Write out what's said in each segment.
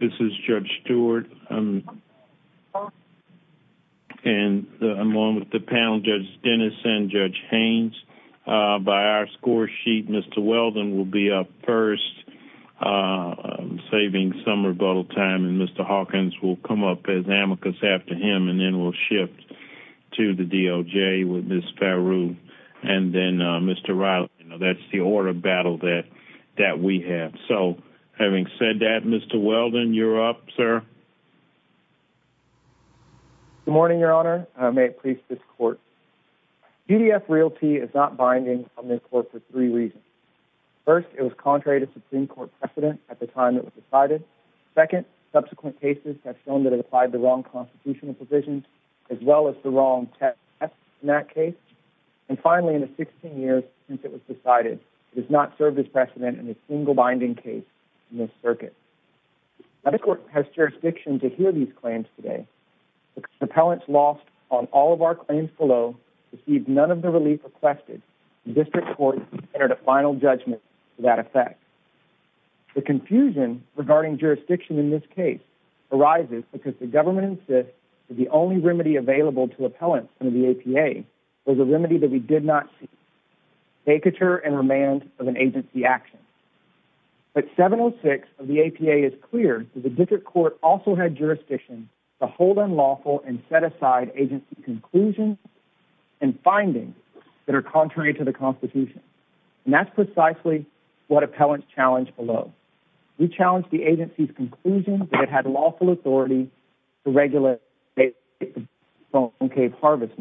This is Judge Stewart, and along with the panel, Judge Dennis and Judge Haynes, by our score sheet, Mr. Weldon will be up first, saving some rebuttal time, and Mr. Hawkins will come up as amicus after him, and then we'll shift to the DOJ with Ms. Faroo and then Mr. Riley. That's the order battle that we have. So, having said that, Mr. Weldon, you're up, sir. Good morning, Your Honor. May it please this court. UDF Realty is not binding on this court for three reasons. First, it was contrary to Supreme Court precedent at the time it was decided. Second, subsequent cases have shown that it applied the wrong constitutional provisions, as well as the wrong test in that case. And finally, 16 years since it was decided, it has not served as precedent in a single binding case in this circuit. Now, the court has jurisdiction to hear these claims today. Appellants lost on all of our claims below received none of the relief requested. District Court entered a final judgment to that effect. The confusion regarding jurisdiction in this case arises because the government insists that the only remedy available to appellants in the APA was a remedy that we did not see, vacature and remand of an agency action. But 706 of the APA is clear that the District Court also had jurisdiction to hold unlawful and set aside agency conclusions and findings that are contrary to the Constitution. And that's precisely what appellants challenged below. We challenged the agency's conclusion that it had to regulate the harvest.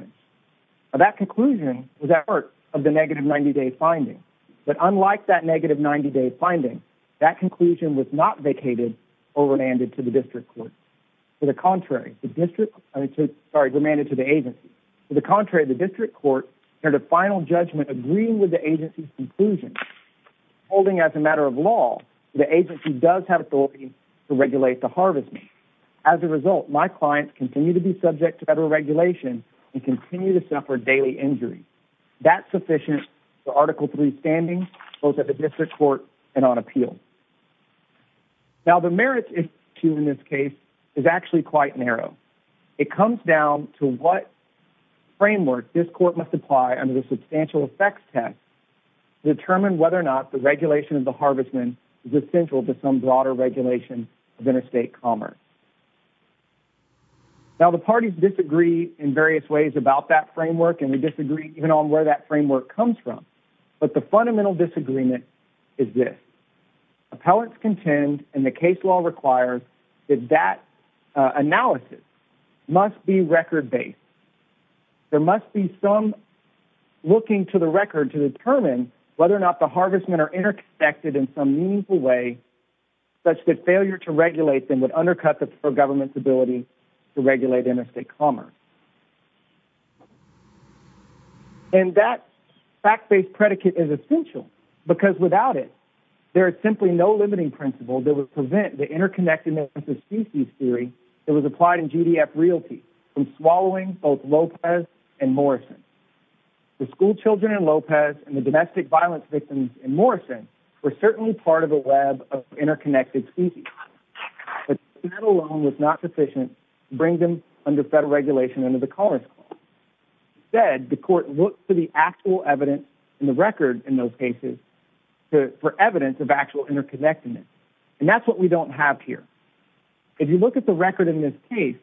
That conclusion was at work of the negative 90-day finding. But unlike that negative 90-day finding, that conclusion was not vacated or remanded to the District Court. To the contrary, the District Court, sorry, demanded to the agency. To the contrary, the District Court entered a final judgment agreeing with the agency's conclusion. Holding as a matter of law, the agency does have authority to regulate the harvest. As a result, my clients continue to be subject to federal regulation and continue to suffer daily injury. That's sufficient for Article III standings both at the District Court and on appeal. Now, the merits issue in this case is actually quite narrow. It comes down to what framework this court must apply under the substantial effects test to determine whether or not the regulation of the harvest is essential to some broader regulation of interstate commerce. Now, the parties disagree in various ways about that framework, and we disagree even on where that framework comes from. But the fundamental disagreement is this. Appellants contend, and the case law requires, that that analysis must be record-based. There must be some looking to the record to determine whether or not the harvestmen are interconnected in some way such that failure to regulate them would undercut the federal government's ability to regulate interstate commerce. And that fact-based predicate is essential, because without it, there is simply no limiting principle that would prevent the interconnectedness of species theory that was applied in GDF Realty from swallowing both Lopez and Morrison. The schoolchildren in Lopez and the domestic violence victims in Morrison were certainly part of the web of interconnected species, but that alone was not sufficient to bring them under federal regulation under the Commerce Clause. Instead, the court looked to the actual evidence in the record in those cases for evidence of actual interconnectedness, and that's what we don't have here. If you look at the record in this case,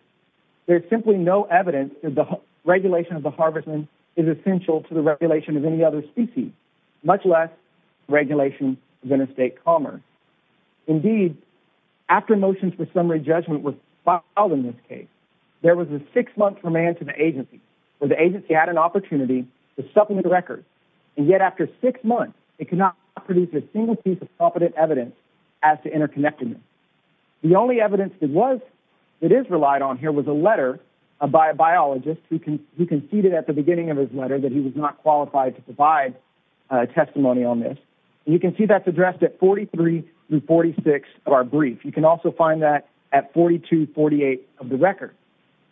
there's simply no evidence that the regulation of the harvestmen is essential to the regulation of any other species, much less regulation of interstate commerce. Indeed, after motions for summary judgment were filed in this case, there was a six-month remand to the agency, where the agency had an opportunity to supplement the record, and yet after six months, it could not produce a single piece of competent evidence as to interconnectedness. The only evidence that is relied on here was a letter by a biologist who conceded at the beginning of his letter that he was not to provide testimony on this, and you can see that's addressed at 43 through 46 of our brief. You can also find that at 42, 48 of the record.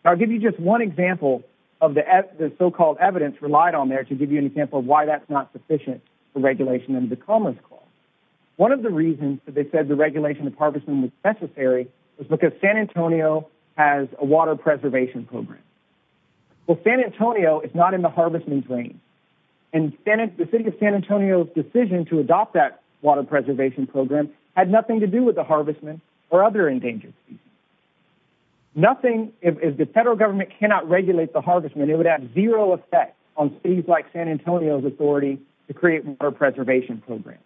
I'll give you just one example of the so-called evidence relied on there to give you an example of why that's not sufficient for regulation under the Commerce Clause. One of the reasons that they said the regulation of harvestmen was necessary was because San Antonio has a water preservation program. Well, San Antonio is not in the and the city of San Antonio's decision to adopt that water preservation program had nothing to do with the harvestmen or other endangered species. Nothing, if the federal government cannot regulate the harvestmen, it would have zero effect on cities like San Antonio's authority to create water preservation programs.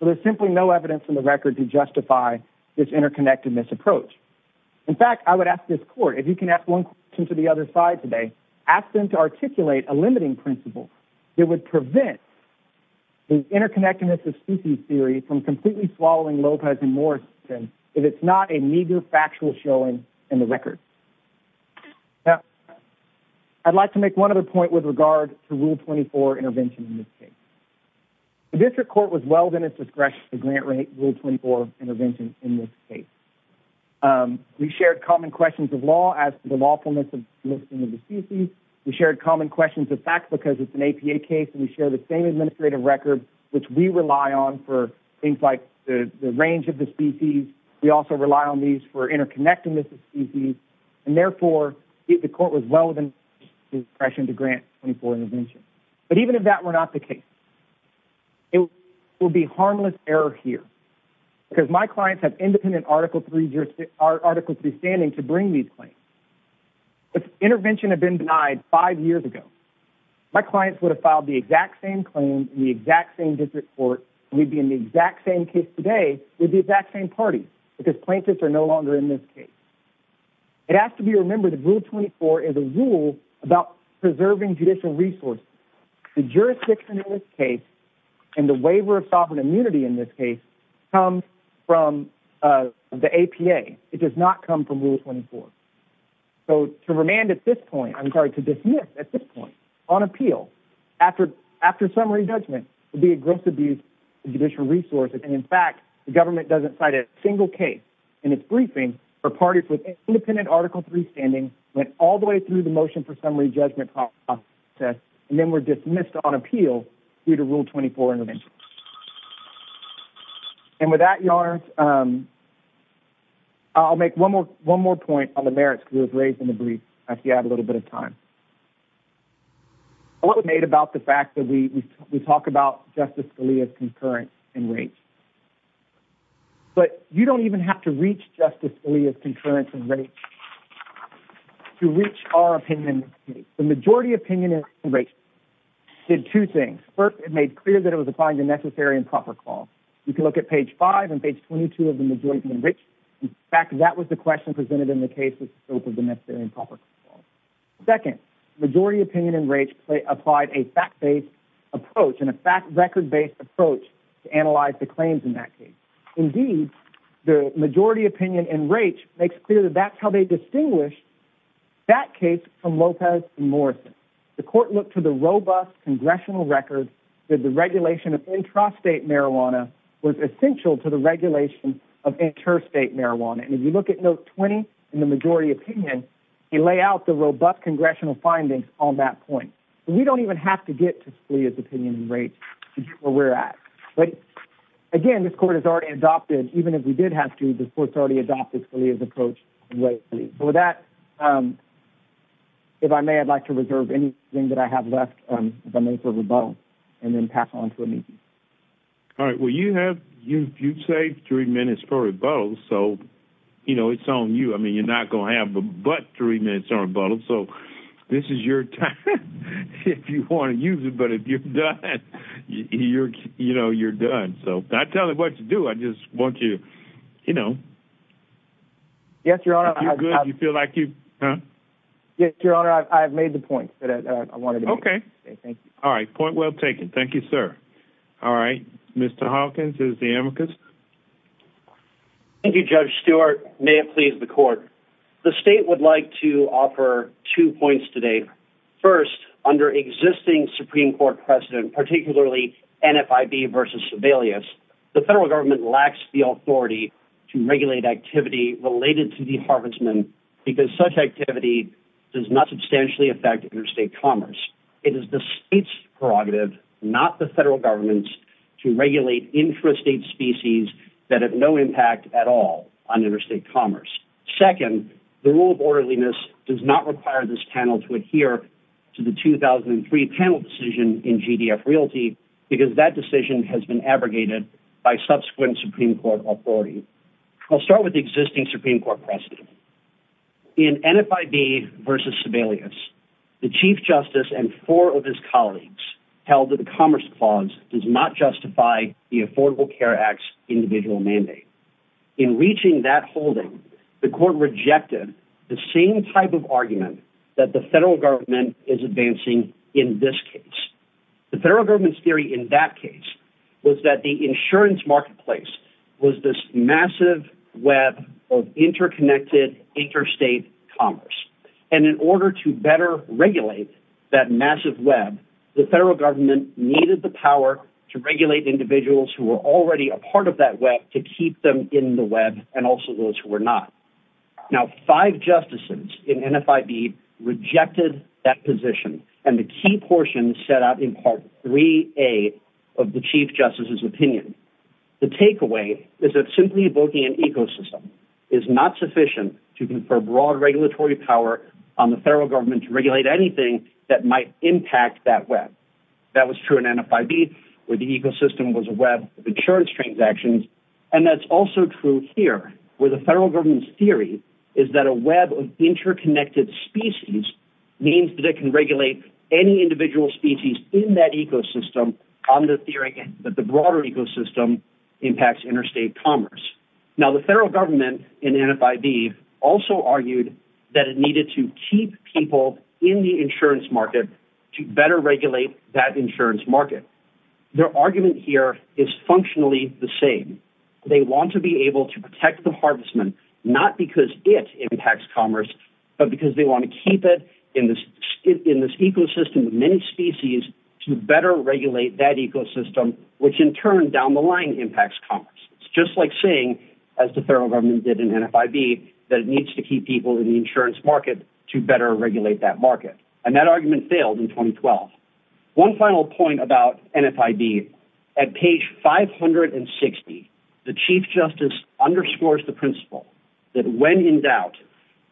So there's simply no evidence in the record to justify this interconnectedness approach. In fact, I would ask this court, if you can ask one question to the other side today, ask them to articulate a limiting principle that would prevent the interconnectedness of species theory from completely swallowing Lopez and Morrison if it's not a meager factual showing in the record. Now, I'd like to make one other point with regard to Rule 24 intervention in this case. The district court was well within its discretion to grant rate Rule 24 intervention in this case. We shared common questions of law as the lawfulness of the species. We shared common questions of facts because it's an APA case and we share the same administrative record, which we rely on for things like the range of the species. We also rely on these for interconnectedness of species. And therefore, the court was well within its discretion to grant Rule 24 intervention. But even if that were not the case, it will be harmless error here because my clients have independent Article 3 standing to bring these claims. If intervention had been denied five years ago, my clients would have filed the exact same claim in the exact same district court and we'd be in the exact same case today with the exact same party because plaintiffs are no longer in this case. It has to be remembered that Rule 24 is a rule about preserving judicial resources. The jurisdiction in this case and the So to remand at this point, I'm sorry, to dismiss at this point on appeal after summary judgment would be a gross abuse of judicial resources. And in fact, the government doesn't cite a single case in its briefing for parties with independent Article 3 standing went all the way through the motion for summary judgment process and then were dismissed on appeal due to Rule 24 intervention. And with that, Your Honor, I'll make one more one more point on the merits was raised in the brief. I have a little bit of time. I was made about the fact that we we talk about Justice Scalia's concurrence and rates. But you don't even have to reach Justice Scalia's concurrence and rates to reach our opinion. The majority opinion in rates did two things. First, it made clear that applying the necessary and proper call. You can look at page five and page 22 of the majority, which, in fact, that was the question presented in the case with the necessary and proper call. Second, majority opinion in rates applied a fact based approach and a record based approach to analyze the claims in that case. Indeed, the majority opinion in rates makes clear that that's how they distinguish that case from Lopez and Morrison. The court looked to the robust congressional record that the regulation of intrastate marijuana was essential to the regulation of interstate marijuana. And if you look at note 20 in the majority opinion, he lay out the robust congressional findings on that point. We don't even have to get to Scalia's opinion in rates to get where we're at. But again, this court has already adopted, even if we did have to, the court's already adopted Scalia's approach. With that, um, if I may, I'd like to reserve anything that I have left for rebuttal and then pass on to me. All right. Well, you have you you've saved three minutes for rebuttal. So, you know, it's on you. I mean, you're not going to have but three minutes on rebuttal. So this is your time if you want to use it. But if you're you're you know, you're done. So I tell you what to do. I just want you, you know, yes, you're good. You feel like you get your honor. I've made the point that I wanted. Okay. Thank you. All right. Point well taken. Thank you, sir. All right. Mr Hawkins is the amicus. Thank you, Judge Stewart. May it please the court. The state would like to offer two points today. First, under existing Supreme Court precedent, particularly NFIB versus Sebelius, the federal government lacks the authority to regulate activity related to deharvestment because such activity does not substantially affect interstate commerce. It is the state's prerogative, not the federal government's, to regulate intrastate species that have no impact at all on interstate commerce. Second, the rule of orderliness does not require this panel to adhere to the 2003 panel decision in GDF Realty because that decision has been abrogated by subsequent Supreme Court authority. I'll start with the existing Supreme Court precedent. In NFIB versus Sebelius, the Chief Justice and four of his colleagues held that the Commerce Clause does not justify the Affordable Care Act's individual mandate. In reaching that holding, the court rejected the same type of argument that the federal government is advancing in this case. The federal government's theory in that case was that the insurance marketplace was this massive web of interconnected interstate commerce. And in order to better regulate that massive web, the federal government needed the part of that web to keep them in the web and also those who were not. Now, five justices in NFIB rejected that position, and the key portion set out in Part 3A of the Chief Justice's opinion. The takeaway is that simply evoking an ecosystem is not sufficient to confer broad regulatory power on the federal government to regulate anything that might impact that web. That was true in NFIB, where the ecosystem was a web of insurance transactions, and that's also true here, where the federal government's theory is that a web of interconnected species means that it can regulate any individual species in that ecosystem on the theory that the broader ecosystem impacts interstate commerce. Now, the federal government in NFIB also argued that it needed to keep people in the insurance market to better regulate that insurance market. Their argument here is functionally the same. They want to be able to protect the harvestment not because it impacts commerce, but because they want to keep it in this ecosystem of many species to better regulate that ecosystem, which in turn down the line impacts commerce. It's just like saying, as the federal government did in NFIB, that it needs to keep people in the insurance market to better regulate that market, and that argument failed in 2012. One final point about NFIB, at page 560, the chief justice underscores the principle that when in doubt,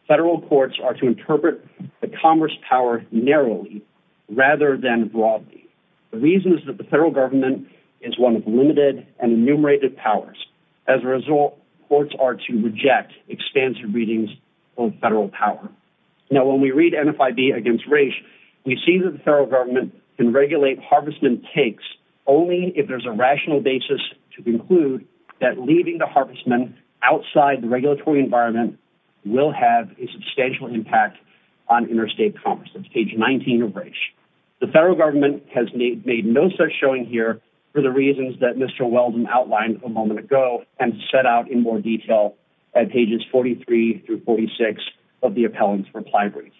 federal courts are to interpret the commerce power narrowly rather than broadly. The reason is that the federal government is one of limited and enumerated powers. As a result, courts are to reject expansive readings of federal power. Now, when we read NFIB against Raich, we see that the federal government can regulate harvestment takes only if there's a rational basis to conclude that leaving the harvestment outside the regulatory environment will have a substantial impact on interstate commerce. That's page 19 of Raich. The federal government has made no such showing here for the reasons that Mr. Weldon outlined a moment ago and set out in more detail at pages 43 through 46 of the appellant's reply brief.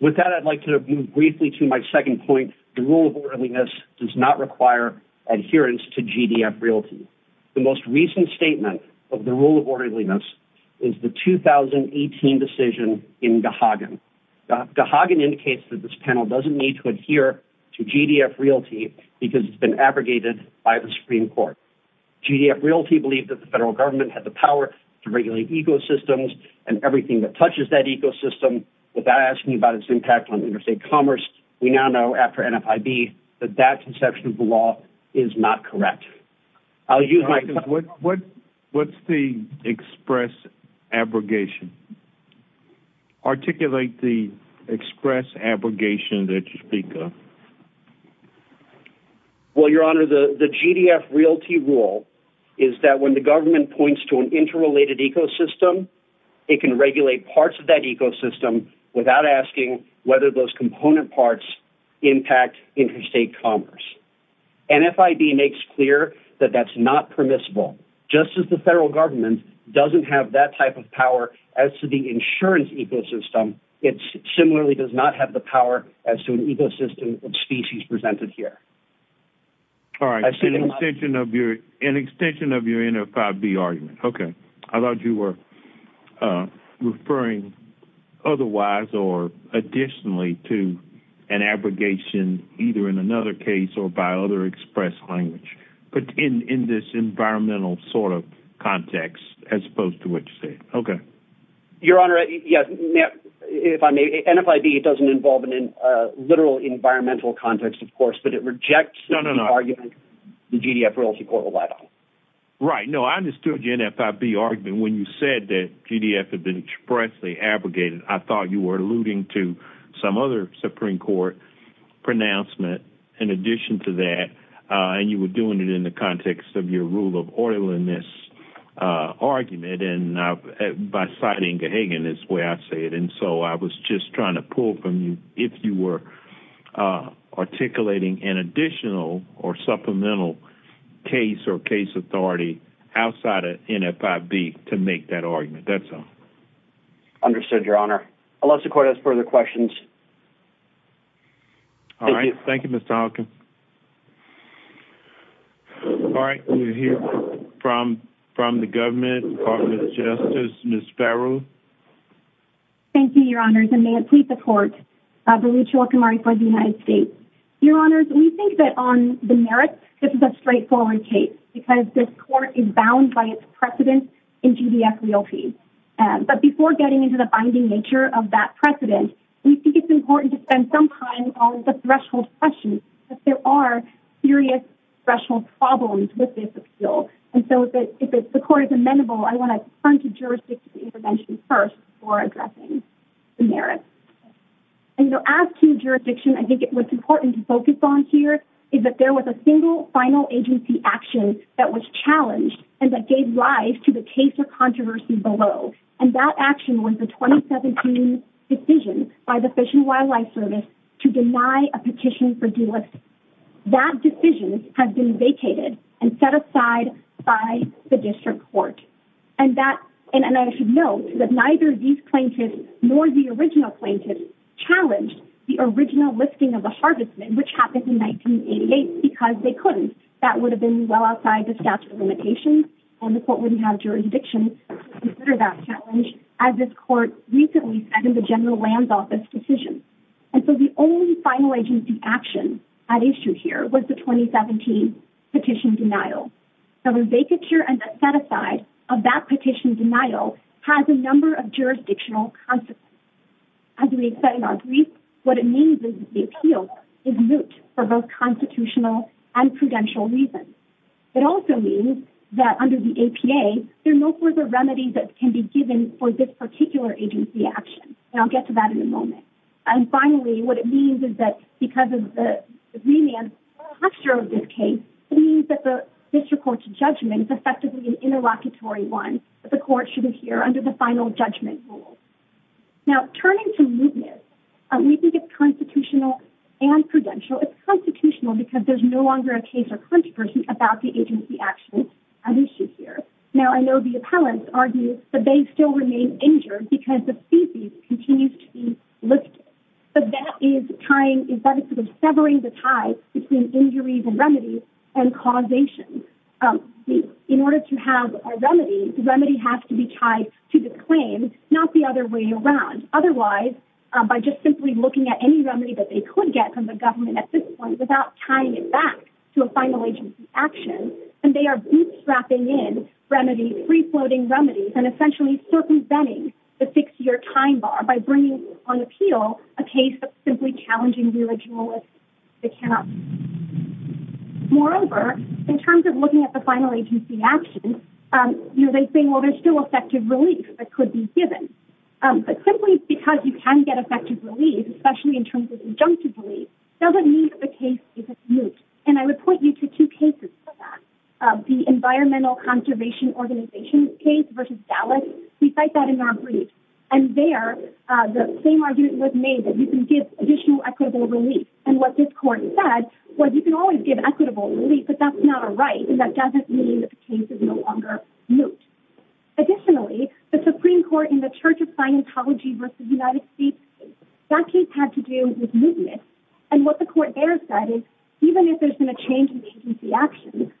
With that, I'd like to move briefly to my second point. The rule of orderliness does not require adherence to GDF Realty. The most recent statement of the rule of orderliness is the 2018 decision in Gahagan. Gahagan indicates that this panel doesn't need to adhere to GDF Realty because it's been abrogated by the Supreme Court. GDF Realty believed the federal government had the power to regulate ecosystems and everything that touches that ecosystem without asking about its impact on interstate commerce. We now know after NFIB that that conception of the law is not correct. What's the express abrogation? Articulate the express abrogation that you speak of. Well, Your Honor, the GDF Realty rule is that when the government points to an interrelated ecosystem, it can regulate parts of that ecosystem without asking whether those component parts impact interstate commerce. NFIB makes clear that that's not permissible. Just as the federal government doesn't have that type of power as to the insurance ecosystem, it similarly does not have the power as to an ecosystem of species presented here. All right. An extension of your NFIB argument. Okay. I thought you were referring otherwise or additionally to an abrogation either in another case or by other express language, but in this environmental sort of context as opposed to what you said. Okay. Your Honor, yes. If I may, NFIB, it doesn't involve a literal environmental context, of course, but it rejects the argument the GDF Realty Court relied on. Right. No, I understood your NFIB argument when you said that GDF had been expressly abrogated. I thought you were alluding to some other Supreme Court pronouncement in addition to that, and you were doing it in the context of your rule of orderliness argument and by citing Gahagan is the way I say it. I was just trying to pull from you if you were articulating an additional or supplemental case or case authority outside of NFIB to make that argument. That's all. Understood, Your Honor. I'll let the court ask further questions. All right. Thank you, Mr. Hawkins. All right. We hear from the government, Department of Justice, Ms. Farrell. Thank you, Your Honors, and may it please the court, Berucha Okumari for the United States. Your Honors, we think that on the merits, this is a straightforward case because this court is bound by its precedent in GDF Realty, but before getting into the binding nature of that precedent, we think it's important to spend some time on the threshold questions, but there are serious threshold problems with this appeal, and so if the court is amenable, I want to turn to jurisdiction intervention first for addressing the merits. And so as to jurisdiction, I think what's important to focus on here is that there was a single final agency action that was challenged and that gave rise to the case controversy below, and that action was the 2017 decision by the Fish and Wildlife Service to deny a petition for delisting. That decision has been vacated and set aside by the district court, and I should note that neither these plaintiffs nor the original plaintiffs challenged the original listing of the harvest men, which happened in 1988, because they couldn't. That would have been well outside the statute of limitations, and the court wouldn't have jurisdiction to consider that challenge, as this court recently said in the General Land Office decision. And so the only final agency action at issue here was the 2017 petition denial. So the vacature and the set-aside of that petition denial has a number of jurisdictional consequences. As we said in our brief, what it means is that the appeal is moot for both constitutional and prudential reasons. It also means that under the APA, there are no further remedies that can be given for this particular agency action, and I'll get to that in a moment. And finally, what it means is that because of the remand structure of this case, it means that the district court's judgment is effectively an interlocutory one that the court should adhere under the final judgment rule. Now, turning to mootness, we think it's constitutional and prudential. It's constitutional because there's no longer a case or controversy about the agency action at issue here. Now, I know the appellants argue that they still remain injured because the feces continues to be lifted. But that is trying, is basically severing the tie between injuries and remedies and causation. In order to have a remedy, the remedy has to be tied to the claim, not the other way around. Otherwise, by just simply looking at any get from the government at this point without tying it back to a final agency action, and they are bootstrapping in remedies, free-floating remedies, and essentially circumventing the six-year time bar by bringing on appeal a case of simply challenging the original list. They cannot. Moreover, in terms of looking at the final agency action, you know, they think, well, there's still effective relief that could be given. But simply because you can get effective relief, especially in terms of injunctive relief, doesn't mean that the case isn't moot. And I would point you to two cases for that. The Environmental Conservation Organization's case versus Dallas, we cite that in our brief. And there, the same argument was made that you can give additional equitable relief. And what this court said was you can always give equitable relief, but that's not a right, and that doesn't mean that the case is no longer moot. Additionally, the Supreme Court in the Church of Scientology versus United States case, that case had to do with mootness. And what the court there said is even if there's been a change in agency action,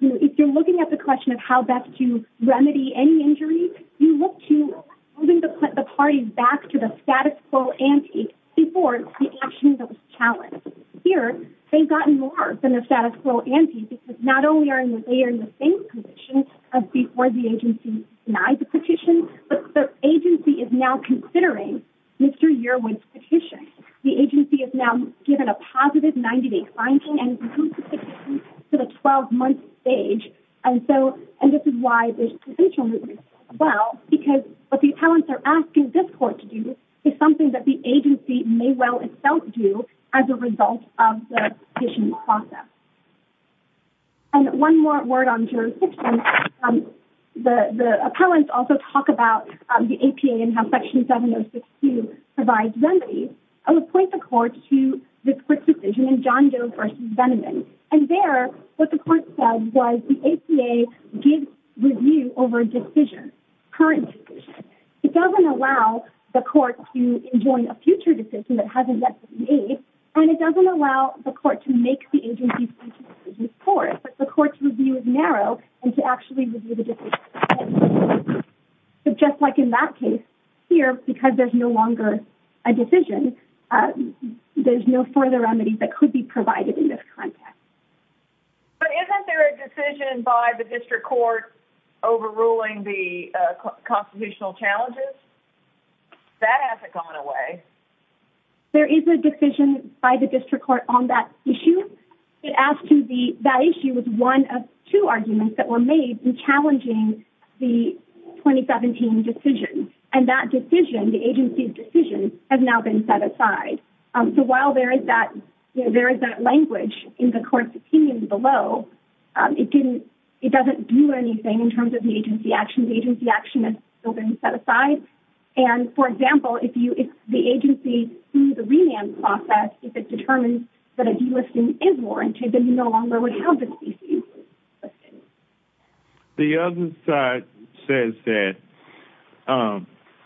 if you're looking at the question of how best to remedy any injury, you look to moving the parties back to the status quo ante before the action that was challenged. Here, they've gotten more than the status quo ante because not only are they in the same position as before the agency denied the petition, but the agency is now considering Mr. Yearwood's petition. The agency has now given a positive 90-day finding and moved the petition to the 12-month stage. And this is why there's potential mootness as well, because what the attorneys are asking this court to do is something that the agency may well itself do as a result of the petition process. And one more word on jurisdiction. The appellants also talk about the APA and how Section 7062 provides remedies. I would point the court to the quick decision in John Doe versus Veneman. And there, what the court said was the APA gives review over a decision, current decision. It doesn't allow the court to enjoin a future decision that hasn't yet been made, and it doesn't allow the court to make the agency's decision before it, but the court's review is narrow and to actually review the decision. So just like in that case here, because there's no longer a decision, there's no further remedies that could be provided in this context. But isn't there a decision by the district court overruling the constitutional challenges? That hasn't gone away. There is a decision by the district court on that issue. It asked to be, that issue was one of two arguments that were made in challenging the 2017 decision. And that decision, the agency's decision, has now been set aside. So while there is that, you know, there is that language in the court's opinion below, it didn't, it doesn't do anything in terms of the agency action. The agency action has still been set aside. And for example, if you, if the agency sees a remand process, if it determines that a delisting is warranted, then you no longer would have the decision. The other side says that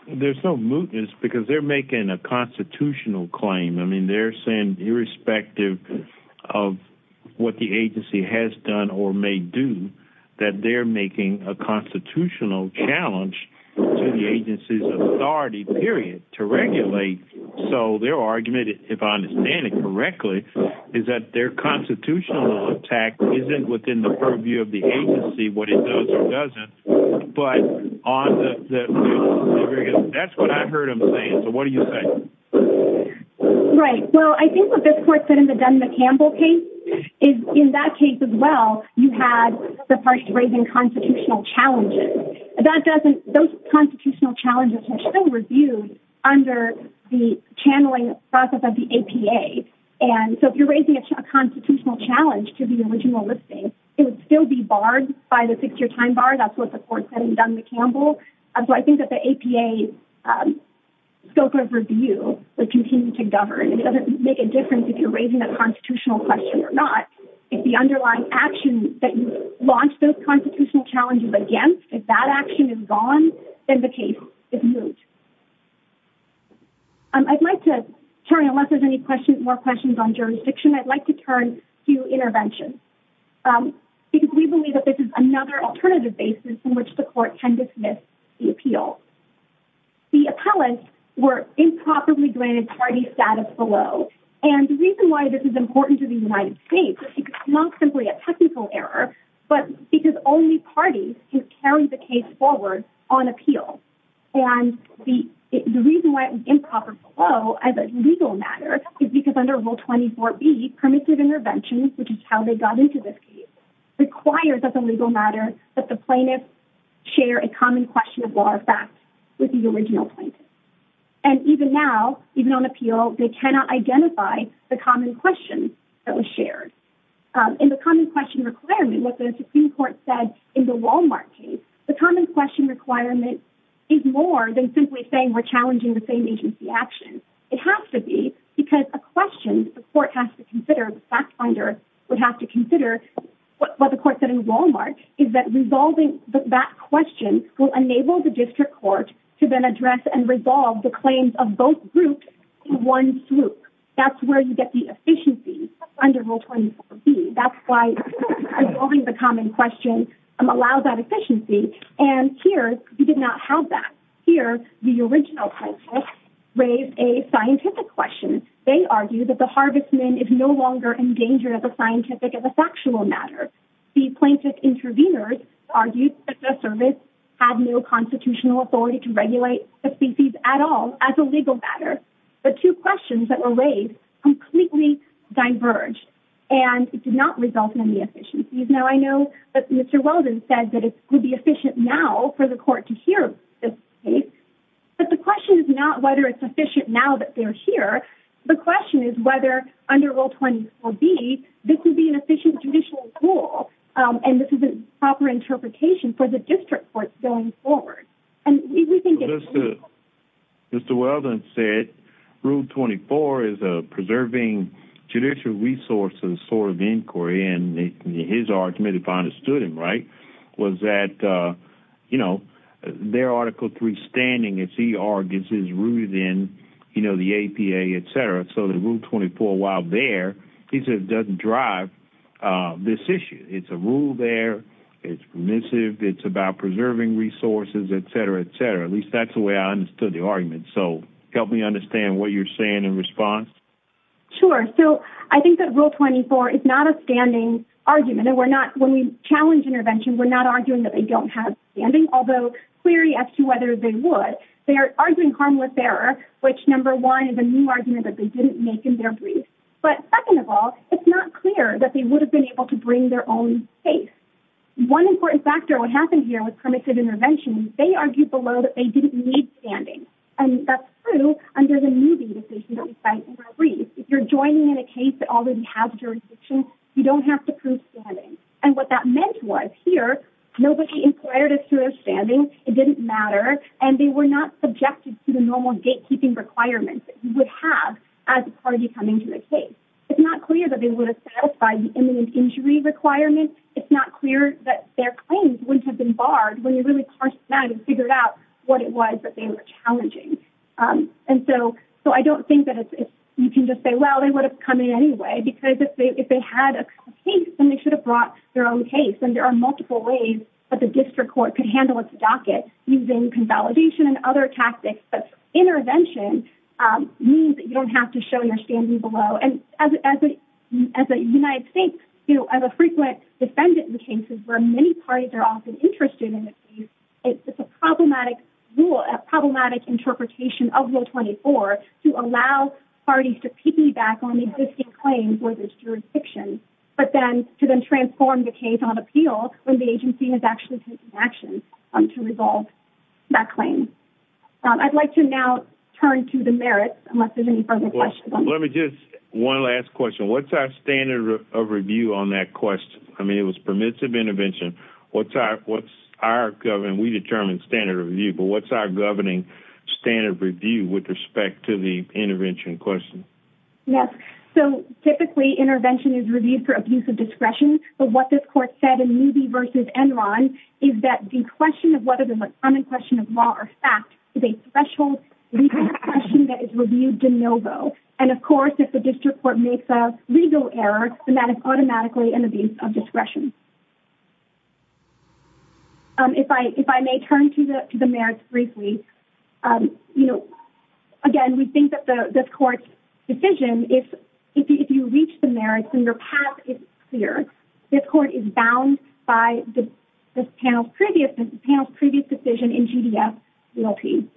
there's no mootness because they're making a constitutional claim. I mean, they're saying, irrespective of what the agency has done or may do, that they're making a constitutional challenge to the agency's authority, period, to regulate. So their argument, if I understand it correctly, is that their constitutional attack isn't within the purview of the agency, what it does or doesn't. But on the, that's what I heard him saying. So what do you say? Right. Well, I think what this court said in the Dun & McCampbell case is in that case as well, you had the parties raising constitutional challenges. That doesn't, those constitutional challenges are still reviewed under the channeling process of the APA. And so if you're raising a constitutional challenge to the original listing, it would still be barred by the six-year time bar. That's what the court said in Dun & McCampbell. So I think that the APA scope of review would continue to govern. It doesn't make a difference if you're raising a constitutional question or not. If the underlying action that you launched those constitutional challenges against, if that action is gone, then the case is moot. I'd like to turn, unless there's any questions, more questions on jurisdiction, I'd like to turn to intervention because we believe that this is another alternative basis in which the court can dismiss the appeal. The appellants were improperly below. And the reason why this is important to the United States, it's not simply a technical error, but because only parties can carry the case forward on appeal. And the reason why it was improper below as a legal matter is because under rule 24B, permissive intervention, which is how they got into this case, requires as a legal matter that the plaintiff share a common question with the original plaintiff. And even now, even on appeal, they cannot identify the common question that was shared. And the common question requirement, what the Supreme Court said in the Walmart case, the common question requirement is more than simply saying we're challenging the same agency action. It has to be because a question the court has to consider, the fact finder would have to consider what the court said in Walmart is that resolving that question will enable the district court to then address and resolve the claims of both groups in one swoop. That's where you get the efficiency under rule 24B. That's why resolving the common question allows that efficiency. And here, we did not have that. Here, the original plaintiff raised a scientific question. They argue that the Harvestman is no longer endangered as a factual matter. The plaintiff intervenors argued that the service had no constitutional authority to regulate the species at all as a legal matter. The two questions that were raised completely diverged, and it did not result in the efficiencies. Now, I know that Mr. Weldon said that it would be efficient now for the court to hear this case, but the question is not whether it's efficient now that they're here. The question is whether under rule 24B, this would be an judicial rule, and this is a proper interpretation for the district court going forward. Mr. Weldon said rule 24 is a preserving judicial resources sort of inquiry, and his argument, if I understood him right, was that, you know, their Article III standing, as he argues, is rooted in, you know, the APA, et cetera. So the rule 24, while there, he said, doesn't drive this issue. It's a rule there. It's permissive. It's about preserving resources, et cetera, et cetera. At least that's the way I understood the argument. So help me understand what you're saying in response. Sure. So I think that rule 24 is not a standing argument, and we're not, when we challenge intervention, we're not arguing that they don't have standing, although clearly, as to whether they would, they are arguing harmless error, which, number one, is a new argument that they didn't make in their brief. But second of all, it's not clear that they would have been able to bring their own case. One important factor, what happened here with permissive intervention, they argued below that they didn't need standing, and that's true under the moving decision that we cite in our brief. If you're joining in a case that already has jurisdiction, you don't have to prove standing, and what that meant was here, nobody inquired as to their standing. It didn't matter, and they were not subjected to the normal gatekeeping requirements that you would have as a party coming to the case. It's not clear that they would have satisfied the imminent injury requirement. It's not clear that their claims wouldn't have been barred when you really parsed them and figured out what it was that they were challenging. And so I don't think that you can just say, well, they would have come in anyway, because if they had a case, then they should have brought their own case, and there are multiple ways that the district court could handle its docket using consolidation and other tactics but intervention means that you don't have to show your standing below, and as a United States, you know, as a frequent defendant in cases where many parties are often interested in the case, it's a problematic rule, a problematic interpretation of Rule 24 to allow parties to piggyback on the existing claim for this jurisdiction, but then to then transform the I'd like to now turn to the merits, unless there's any further questions. Let me just, one last question. What's our standard of review on that question? I mean, it was permissive intervention. What's our, what's our government, we determine standard of review, but what's our governing standard of review with respect to the intervention question? Yes, so typically intervention is reviewed for abuse of discretion, but what this court said in Newby versus Enron is that the question of whether there's a common question of law or fact is a threshold legal question that is reviewed de novo, and of course, if the district court makes a legal error, then that is automatically an abuse of discretion. If I may turn to the merits briefly, you know, again, we think that the court's decision, if you reach the merits and your path is clear, this court is bound by the panel's previous decision in GDF Realty.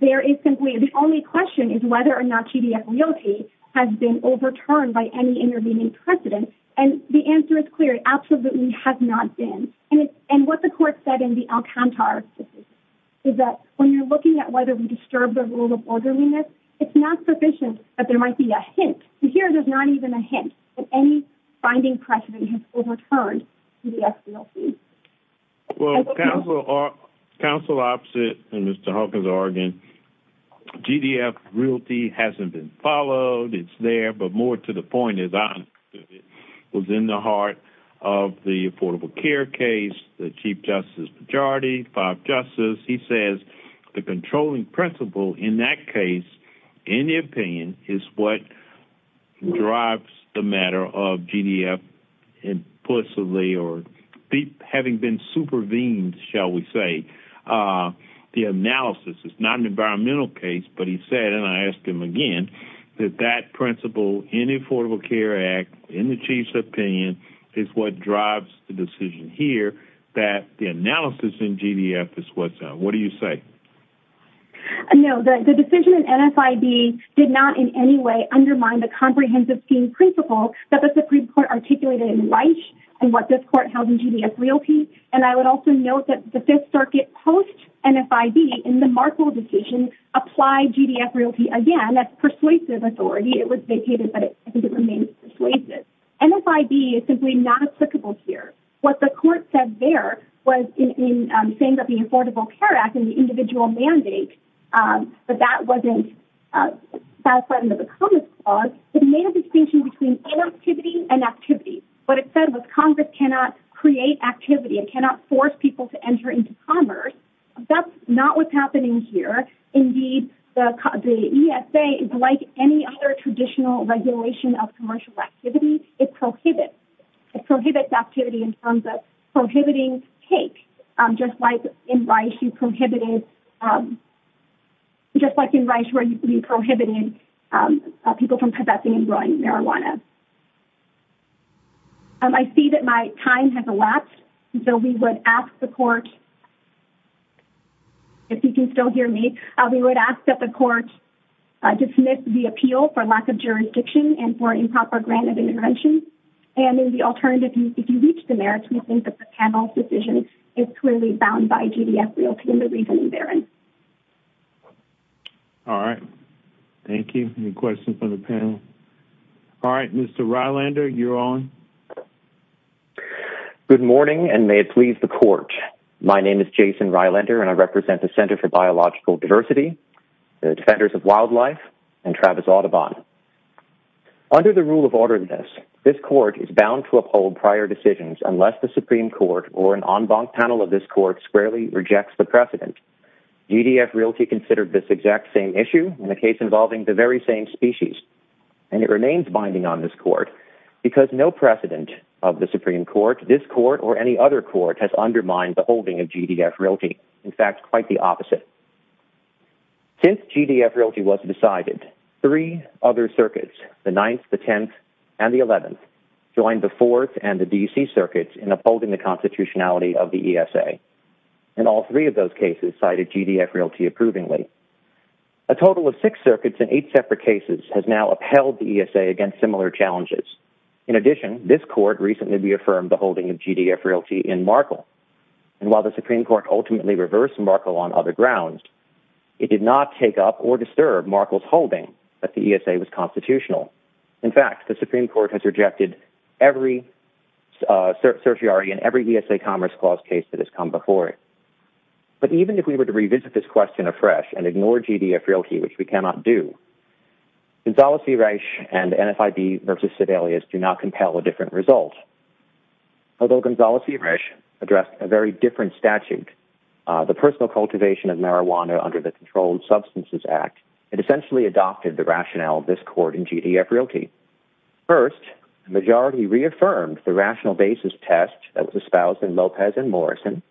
There is simply, the only question is whether or not GDF Realty has been overturned by any intervening precedent, and the answer is clear. It absolutely has not been, and what the court said in the Alcantara is that when you're looking at whether we disturb the rule of orderliness, it's not sufficient that there might be a hint, and here there's not even a hint, that any binding precedent has overturned GDF Realty. Well, counsel opposite and Mr. Hawkins Argonne, GDF Realty hasn't been followed. It's there, but more to the point is I was in the heart of the Affordable Care case, the Chief Justice majority, five justices. He says the controlling principle in that case, in the opinion, is what drives the matter of GDF implicitly or having been supervened, shall we say, the analysis. It's not an environmental case, but he said, and I asked him again, that that principle in the Affordable Care Act, in the Chief's opinion, is what drives the decision here, that the analysis in GDF is what's up. What do you say? No, the decision in NFIB did not in any way undermine the comprehensive scheme principle that the Supreme Court articulated in Reich and what this court held in GDF Realty, and I would also note that the Fifth Circuit post-NFIB in the Markle decision applied GDF Realty again as persuasive authority. It was vacated, but I think it remains persuasive. NFIB is simply not applicable here. What the court said there was in saying that the Affordable Care Act and the individual mandate, but that wasn't satisfied under the Commerce Clause, it made a distinction between activity and activity. What it said was Congress cannot create activity. It cannot force people to enter into commerce. That's not what's happening here. Indeed, the ESA is like any other traditional regulation of commercial activity. It prohibits the activity in terms of prohibiting take, just like in Reich where you prohibited people from professing and growing marijuana. I see that my time has elapsed, so we would ask the court, if you can still hear me, we would ask that the court dismiss the appeal for lack of jurisdiction and for improper grant of intervention. If you reach the merits, we think that the panel's decision is clearly bound by GDF Realty and the reasoning therein. All right. Thank you. Any questions from the panel? All right. Mr. Rylander, you're on. Good morning, and may it please the court. My name is Jason Rylander, and I represent the Center for Biological Diversity, the Defenders of Wildlife, and Travis Audubon. Under the rule of orderliness, this court is bound to uphold prior decisions unless the Supreme Court or an en banc panel of this court squarely rejects the precedent. GDF Realty considered this exact same issue in a case involving the very same species, and it remains binding on this court because no precedent of the Supreme Court, this court, or any other court has undermined the holding of GDF Realty. In fact, quite the opposite. Since GDF Realty was decided, three other circuits, the 9th, the 10th, and the 11th, joined the 4th and the DC circuits in upholding the constitutionality of the ESA. And all three of those cases cited GDF Realty approvingly. A total of six circuits in eight separate cases has now upheld the ESA against similar challenges. In addition, this court recently reaffirmed the holding of GDF Realty in Markle. And while the Supreme Court ultimately reversed Markle on other grounds, it did not take up or disturb Markle's holding that the ESA was constitutional. In fact, the Supreme Court has rejected every certiorari in every ESA Commerce Clause case that has come before it. But even if we were to revisit this question afresh and ignore GDF Realty, which we cannot do, Gonzales-Zureich and NFIB versus Sibelius do not compel a different result. Although Gonzales-Zureich addressed a very statute, the personal cultivation of marijuana under the Controlled Substances Act, it essentially adopted the rationale of this court in GDF Realty. First, the majority reaffirmed the rational basis test that was espoused in Lopez and Morrison,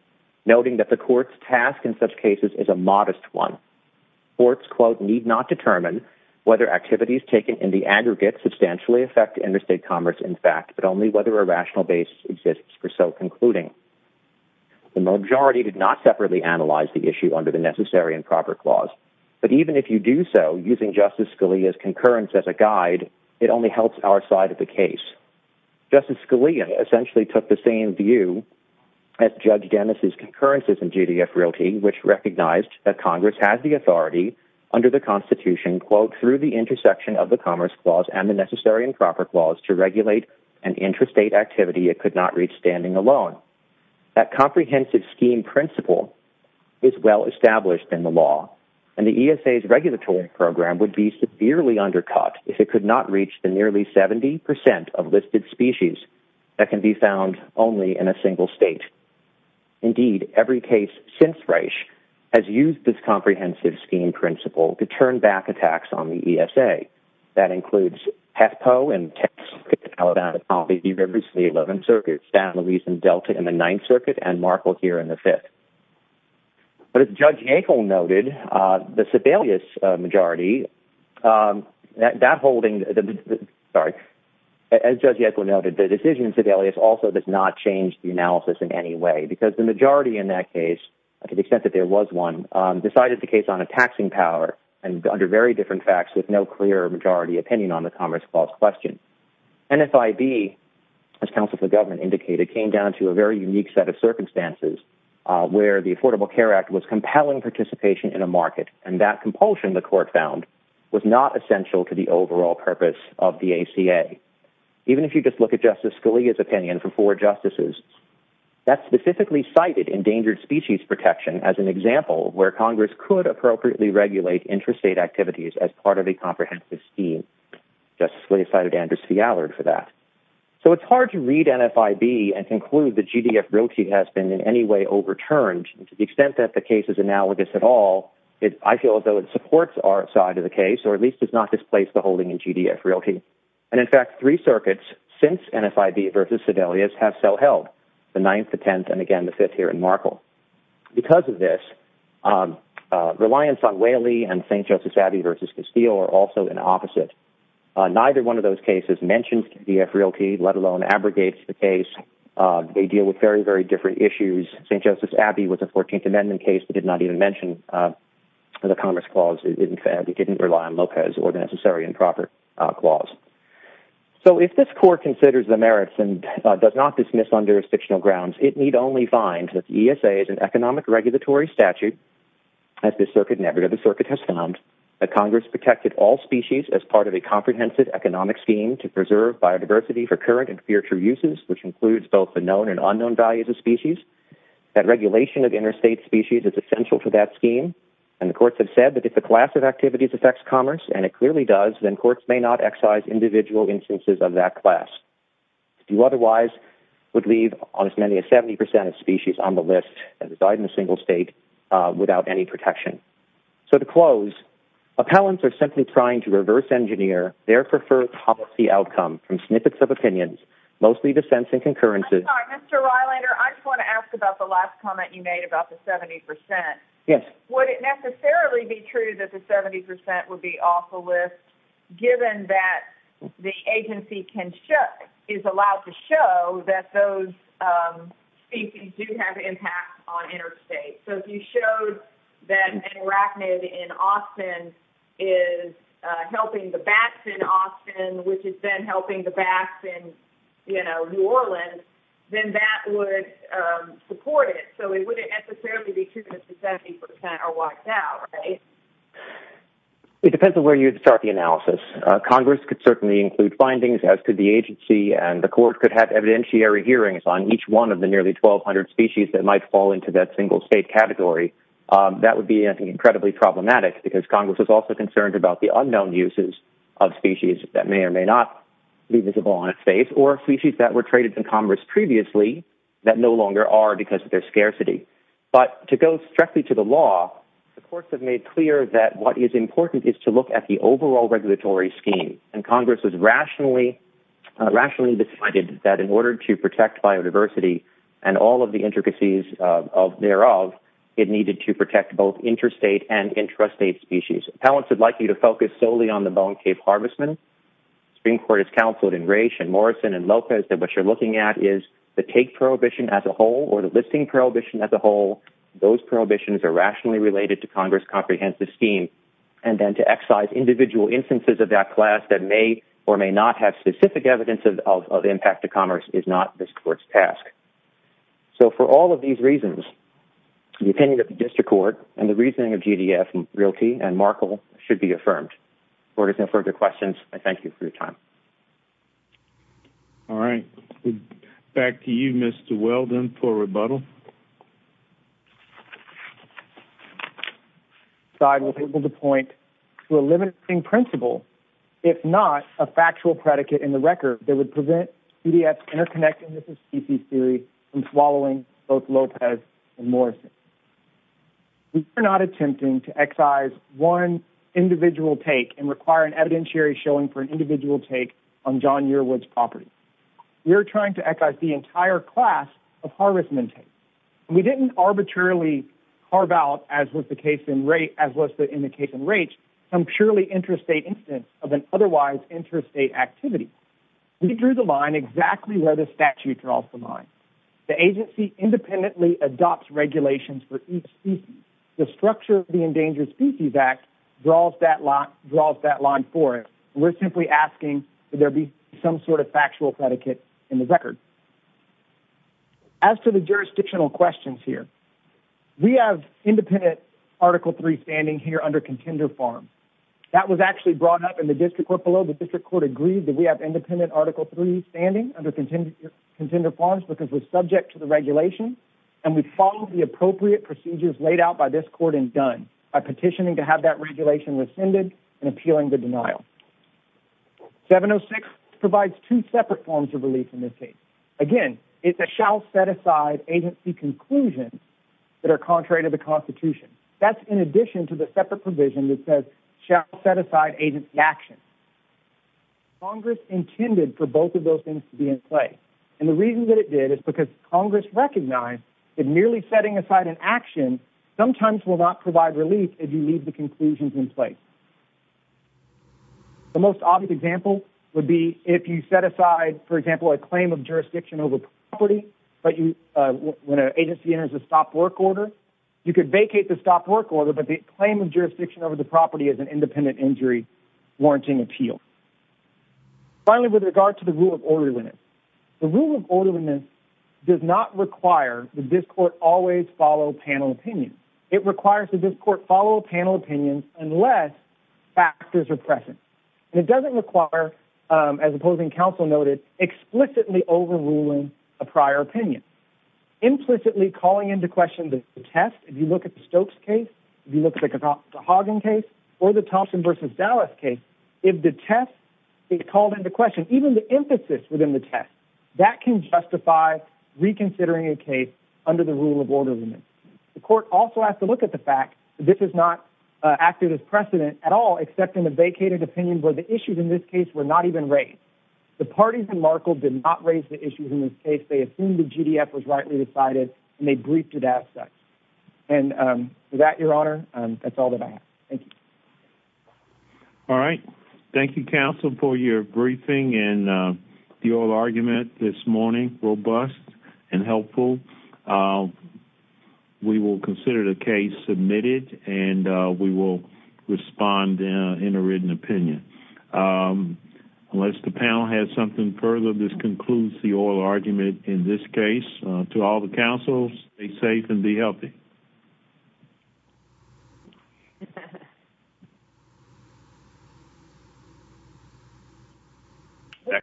noting that the court's task in such cases is a modest one. Courts, quote, need not determine whether activities taken in the aggregate substantially affect interstate commerce, in fact, but only whether a rational base exists for so concluding. The majority did not separately analyze the issue under the Necessary and Proper Clause, but even if you do so, using Justice Scalia's concurrence as a guide, it only helps our side of the case. Justice Scalia essentially took the same view as Judge Dennis's concurrences in GDF Realty, which recognized that Congress has the authority under the Constitution, quote, through the intersection of the Commerce Clause and the standing alone. That comprehensive scheme principle is well established in the law, and the ESA's regulatory program would be severely undercut if it could not reach the nearly 70% of listed species that can be found only in a single state. Indeed, every case since Reich has used this comprehensive scheme principle to turn back attacks on the ESA. That includes Petco and Texas, Alabama, and obviously the 11th Circuit, San Luis and Delta in the 9th Circuit, and Markle here in the 5th. But as Judge Echol noted, the Sebelius majority, that holding, sorry, as Judge Echol noted, the decision in Sebelius also does not change the analysis in any way because the majority in that case, to the extent that there was one, decided the case on a taxing power and under very different facts with no clear opinion on the Commerce Clause question. NFIB, as counsel for government indicated, came down to a very unique set of circumstances where the Affordable Care Act was compelling participation in a market, and that compulsion, the court found, was not essential to the overall purpose of the ACA. Even if you just look at Justice Scalia's opinion for four justices, that specifically cited endangered species protection as an example where Congress could appropriately regulate interstate activities as part of a comprehensive scheme. Justice Scalia cited Andrew C. Allard for that. So it's hard to read NFIB and conclude that GDF Realty has been in any way overturned to the extent that the case is analogous at all. I feel as though it supports our side of the case, or at least does not displace the holding in GDF Realty. And in fact, three circuits since NFIB versus Sebelius have so held, the 9th, the 10th, and again, the 5th here in Markle. Because of this, reliance on Whaley and St. Joseph's Abbey versus Castile are also in opposite. Neither one of those cases mentions GDF Realty, let alone abrogates the case. They deal with very, very different issues. St. Joseph's Abbey was a 14th Amendment case that did not even mention the Commerce Clause. In fact, it didn't rely on Lopez or the Necessary and Proper Clause. So if this court considers the merits and does not dismiss on jurisdictional grounds, it need only find that the ESA is an economic regulatory statute, as this circuit and every other circuit has found, that Congress protected all species as part of a comprehensive economic scheme to preserve biodiversity for current and future uses, which includes both the known and unknown values of species. That regulation of interstate species is essential to that scheme. And the courts have said that if the class of activities affects commerce, and it clearly does, then courts may not excise individual instances of that class. If you otherwise would leave as many as 70% of species on the list and reside in a single state without any protection. So to close, appellants are simply trying to reverse engineer their preferred policy outcome from snippets of opinions, mostly dissents and concurrences. I'm sorry, Mr. Reilander, I just want to ask about the last comment you made about the 70%. Yes. Would it necessarily be true that the 70% would be off the list, given that the agency is allowed to show that those species do have impact on interstate? So if you showed that an arachnid in Austin is helping the bats in Austin, which is then helping the bats in, you know, New Orleans, then that would support it. So it wouldn't necessarily be true that the 70% are wiped out, right? It depends on where you start the analysis. Congress could certainly include findings, as could the agency, and the court could have evidentiary hearings on each one of the nearly 1,200 species that might fall into that single state category. That would be, I think, incredibly problematic, because Congress is also concerned about the unknown uses of species that may or may not be visible on its face, or species that were traded to Congress previously that no longer are because of their scarcity. But to go strictly to the law, the courts have made clear that what is important is to look at the overall regulatory scheme, and Congress has rationally decided that in order to protect biodiversity and all of the intricacies thereof, it needed to protect both interstate and intrastate species. Appellants would like you to focus solely on the Bone Cave Harvestman. The Supreme Court has counseled in Raich and Morrison and Lopez that what you're looking at is the take prohibition as a whole, or the listing prohibition as a whole. Those prohibitions are rationally related to Congress' comprehensive scheme, and then to excise individual instances of that class that may or may not have specific evidence of impact to commerce is not this court's task. So for all of these reasons, the opinion of the district court and the reasoning of GDF, Realty, and Markel should be affirmed. If there are no further questions, I thank you for your time. All right. Back to you, Mr. Weldon, for rebuttal. I will be able to point to a limiting principle, if not a factual predicate in the record, that would prevent GDF's interconnectedness of species theory from swallowing both Lopez and Morrison. We are not attempting to excise one individual take and require an evidentiary showing for an individual take on John Yearwood's property. We are trying to excise the entire class of harassment take. We didn't arbitrarily carve out, as was the case in Raich, some purely interstate instance of an otherwise interstate activity. We drew the line exactly where the statute draws the line. The agency independently adopts regulations for each species. The structure of the Endangered Species Act draws that line for us. We're simply asking that there be some sort of factual predicate in the record. As to the jurisdictional questions here, we have independent Article 3 standing here under contender forms. That was actually brought up in the district court below. The district court agreed that we have independent Article 3 standing under contender forms because we're subject to the regulation, and we followed the appropriate procedures laid out by this court and done by petitioning to have that regulation rescinded and appealing the denial. 706 provides two separate forms of relief in this case. Again, it's a shall set aside agency conclusion that are contrary to the Constitution. That's in addition to the separate provision that says shall set aside agency action. Congress intended for both of those things to be in play, and the reason that it did is because Congress recognized that merely setting aside an action sometimes will not provide relief if you leave the conclusions in place. The most obvious example would be if you set aside, for example, a claim of jurisdiction over property when an agency enters a stopped work order. You could vacate the stopped work order, but the claim of jurisdiction over the property is an independent injury warranting appeal. Finally, with regard to the rule of orderliness, the rule of orderliness does not require that this court always follow panel opinion. It requires that this court follow panel opinions unless factors are present. It doesn't require, as opposing counsel noted, explicitly overruling a prior opinion. Implicitly calling into question the test, if you look at the Stokes case, if you look at the Hagen case, or the Thompson versus Dallas case, if the test is called into question, even the emphasis within the test, that can justify reconsidering a case under the rule of orderliness. The court also has to look at the fact that this is not acted as precedent at all except in the vacated opinion where the issues in this case were not even raised. The parties in Markle did not raise the issues in this case. They assumed the GDF was rightly decided, and they briefed it as such. And with that, Your Honor, that's all that I have. Thank you. All right. Thank you, counsel, for your briefing and your argument this morning, robust and helpful. We will consider the case submitted, and we will respond in a written opinion. Unless the panel has something further, this concludes the oral argument in this case. To all the counsels, stay safe and be healthy.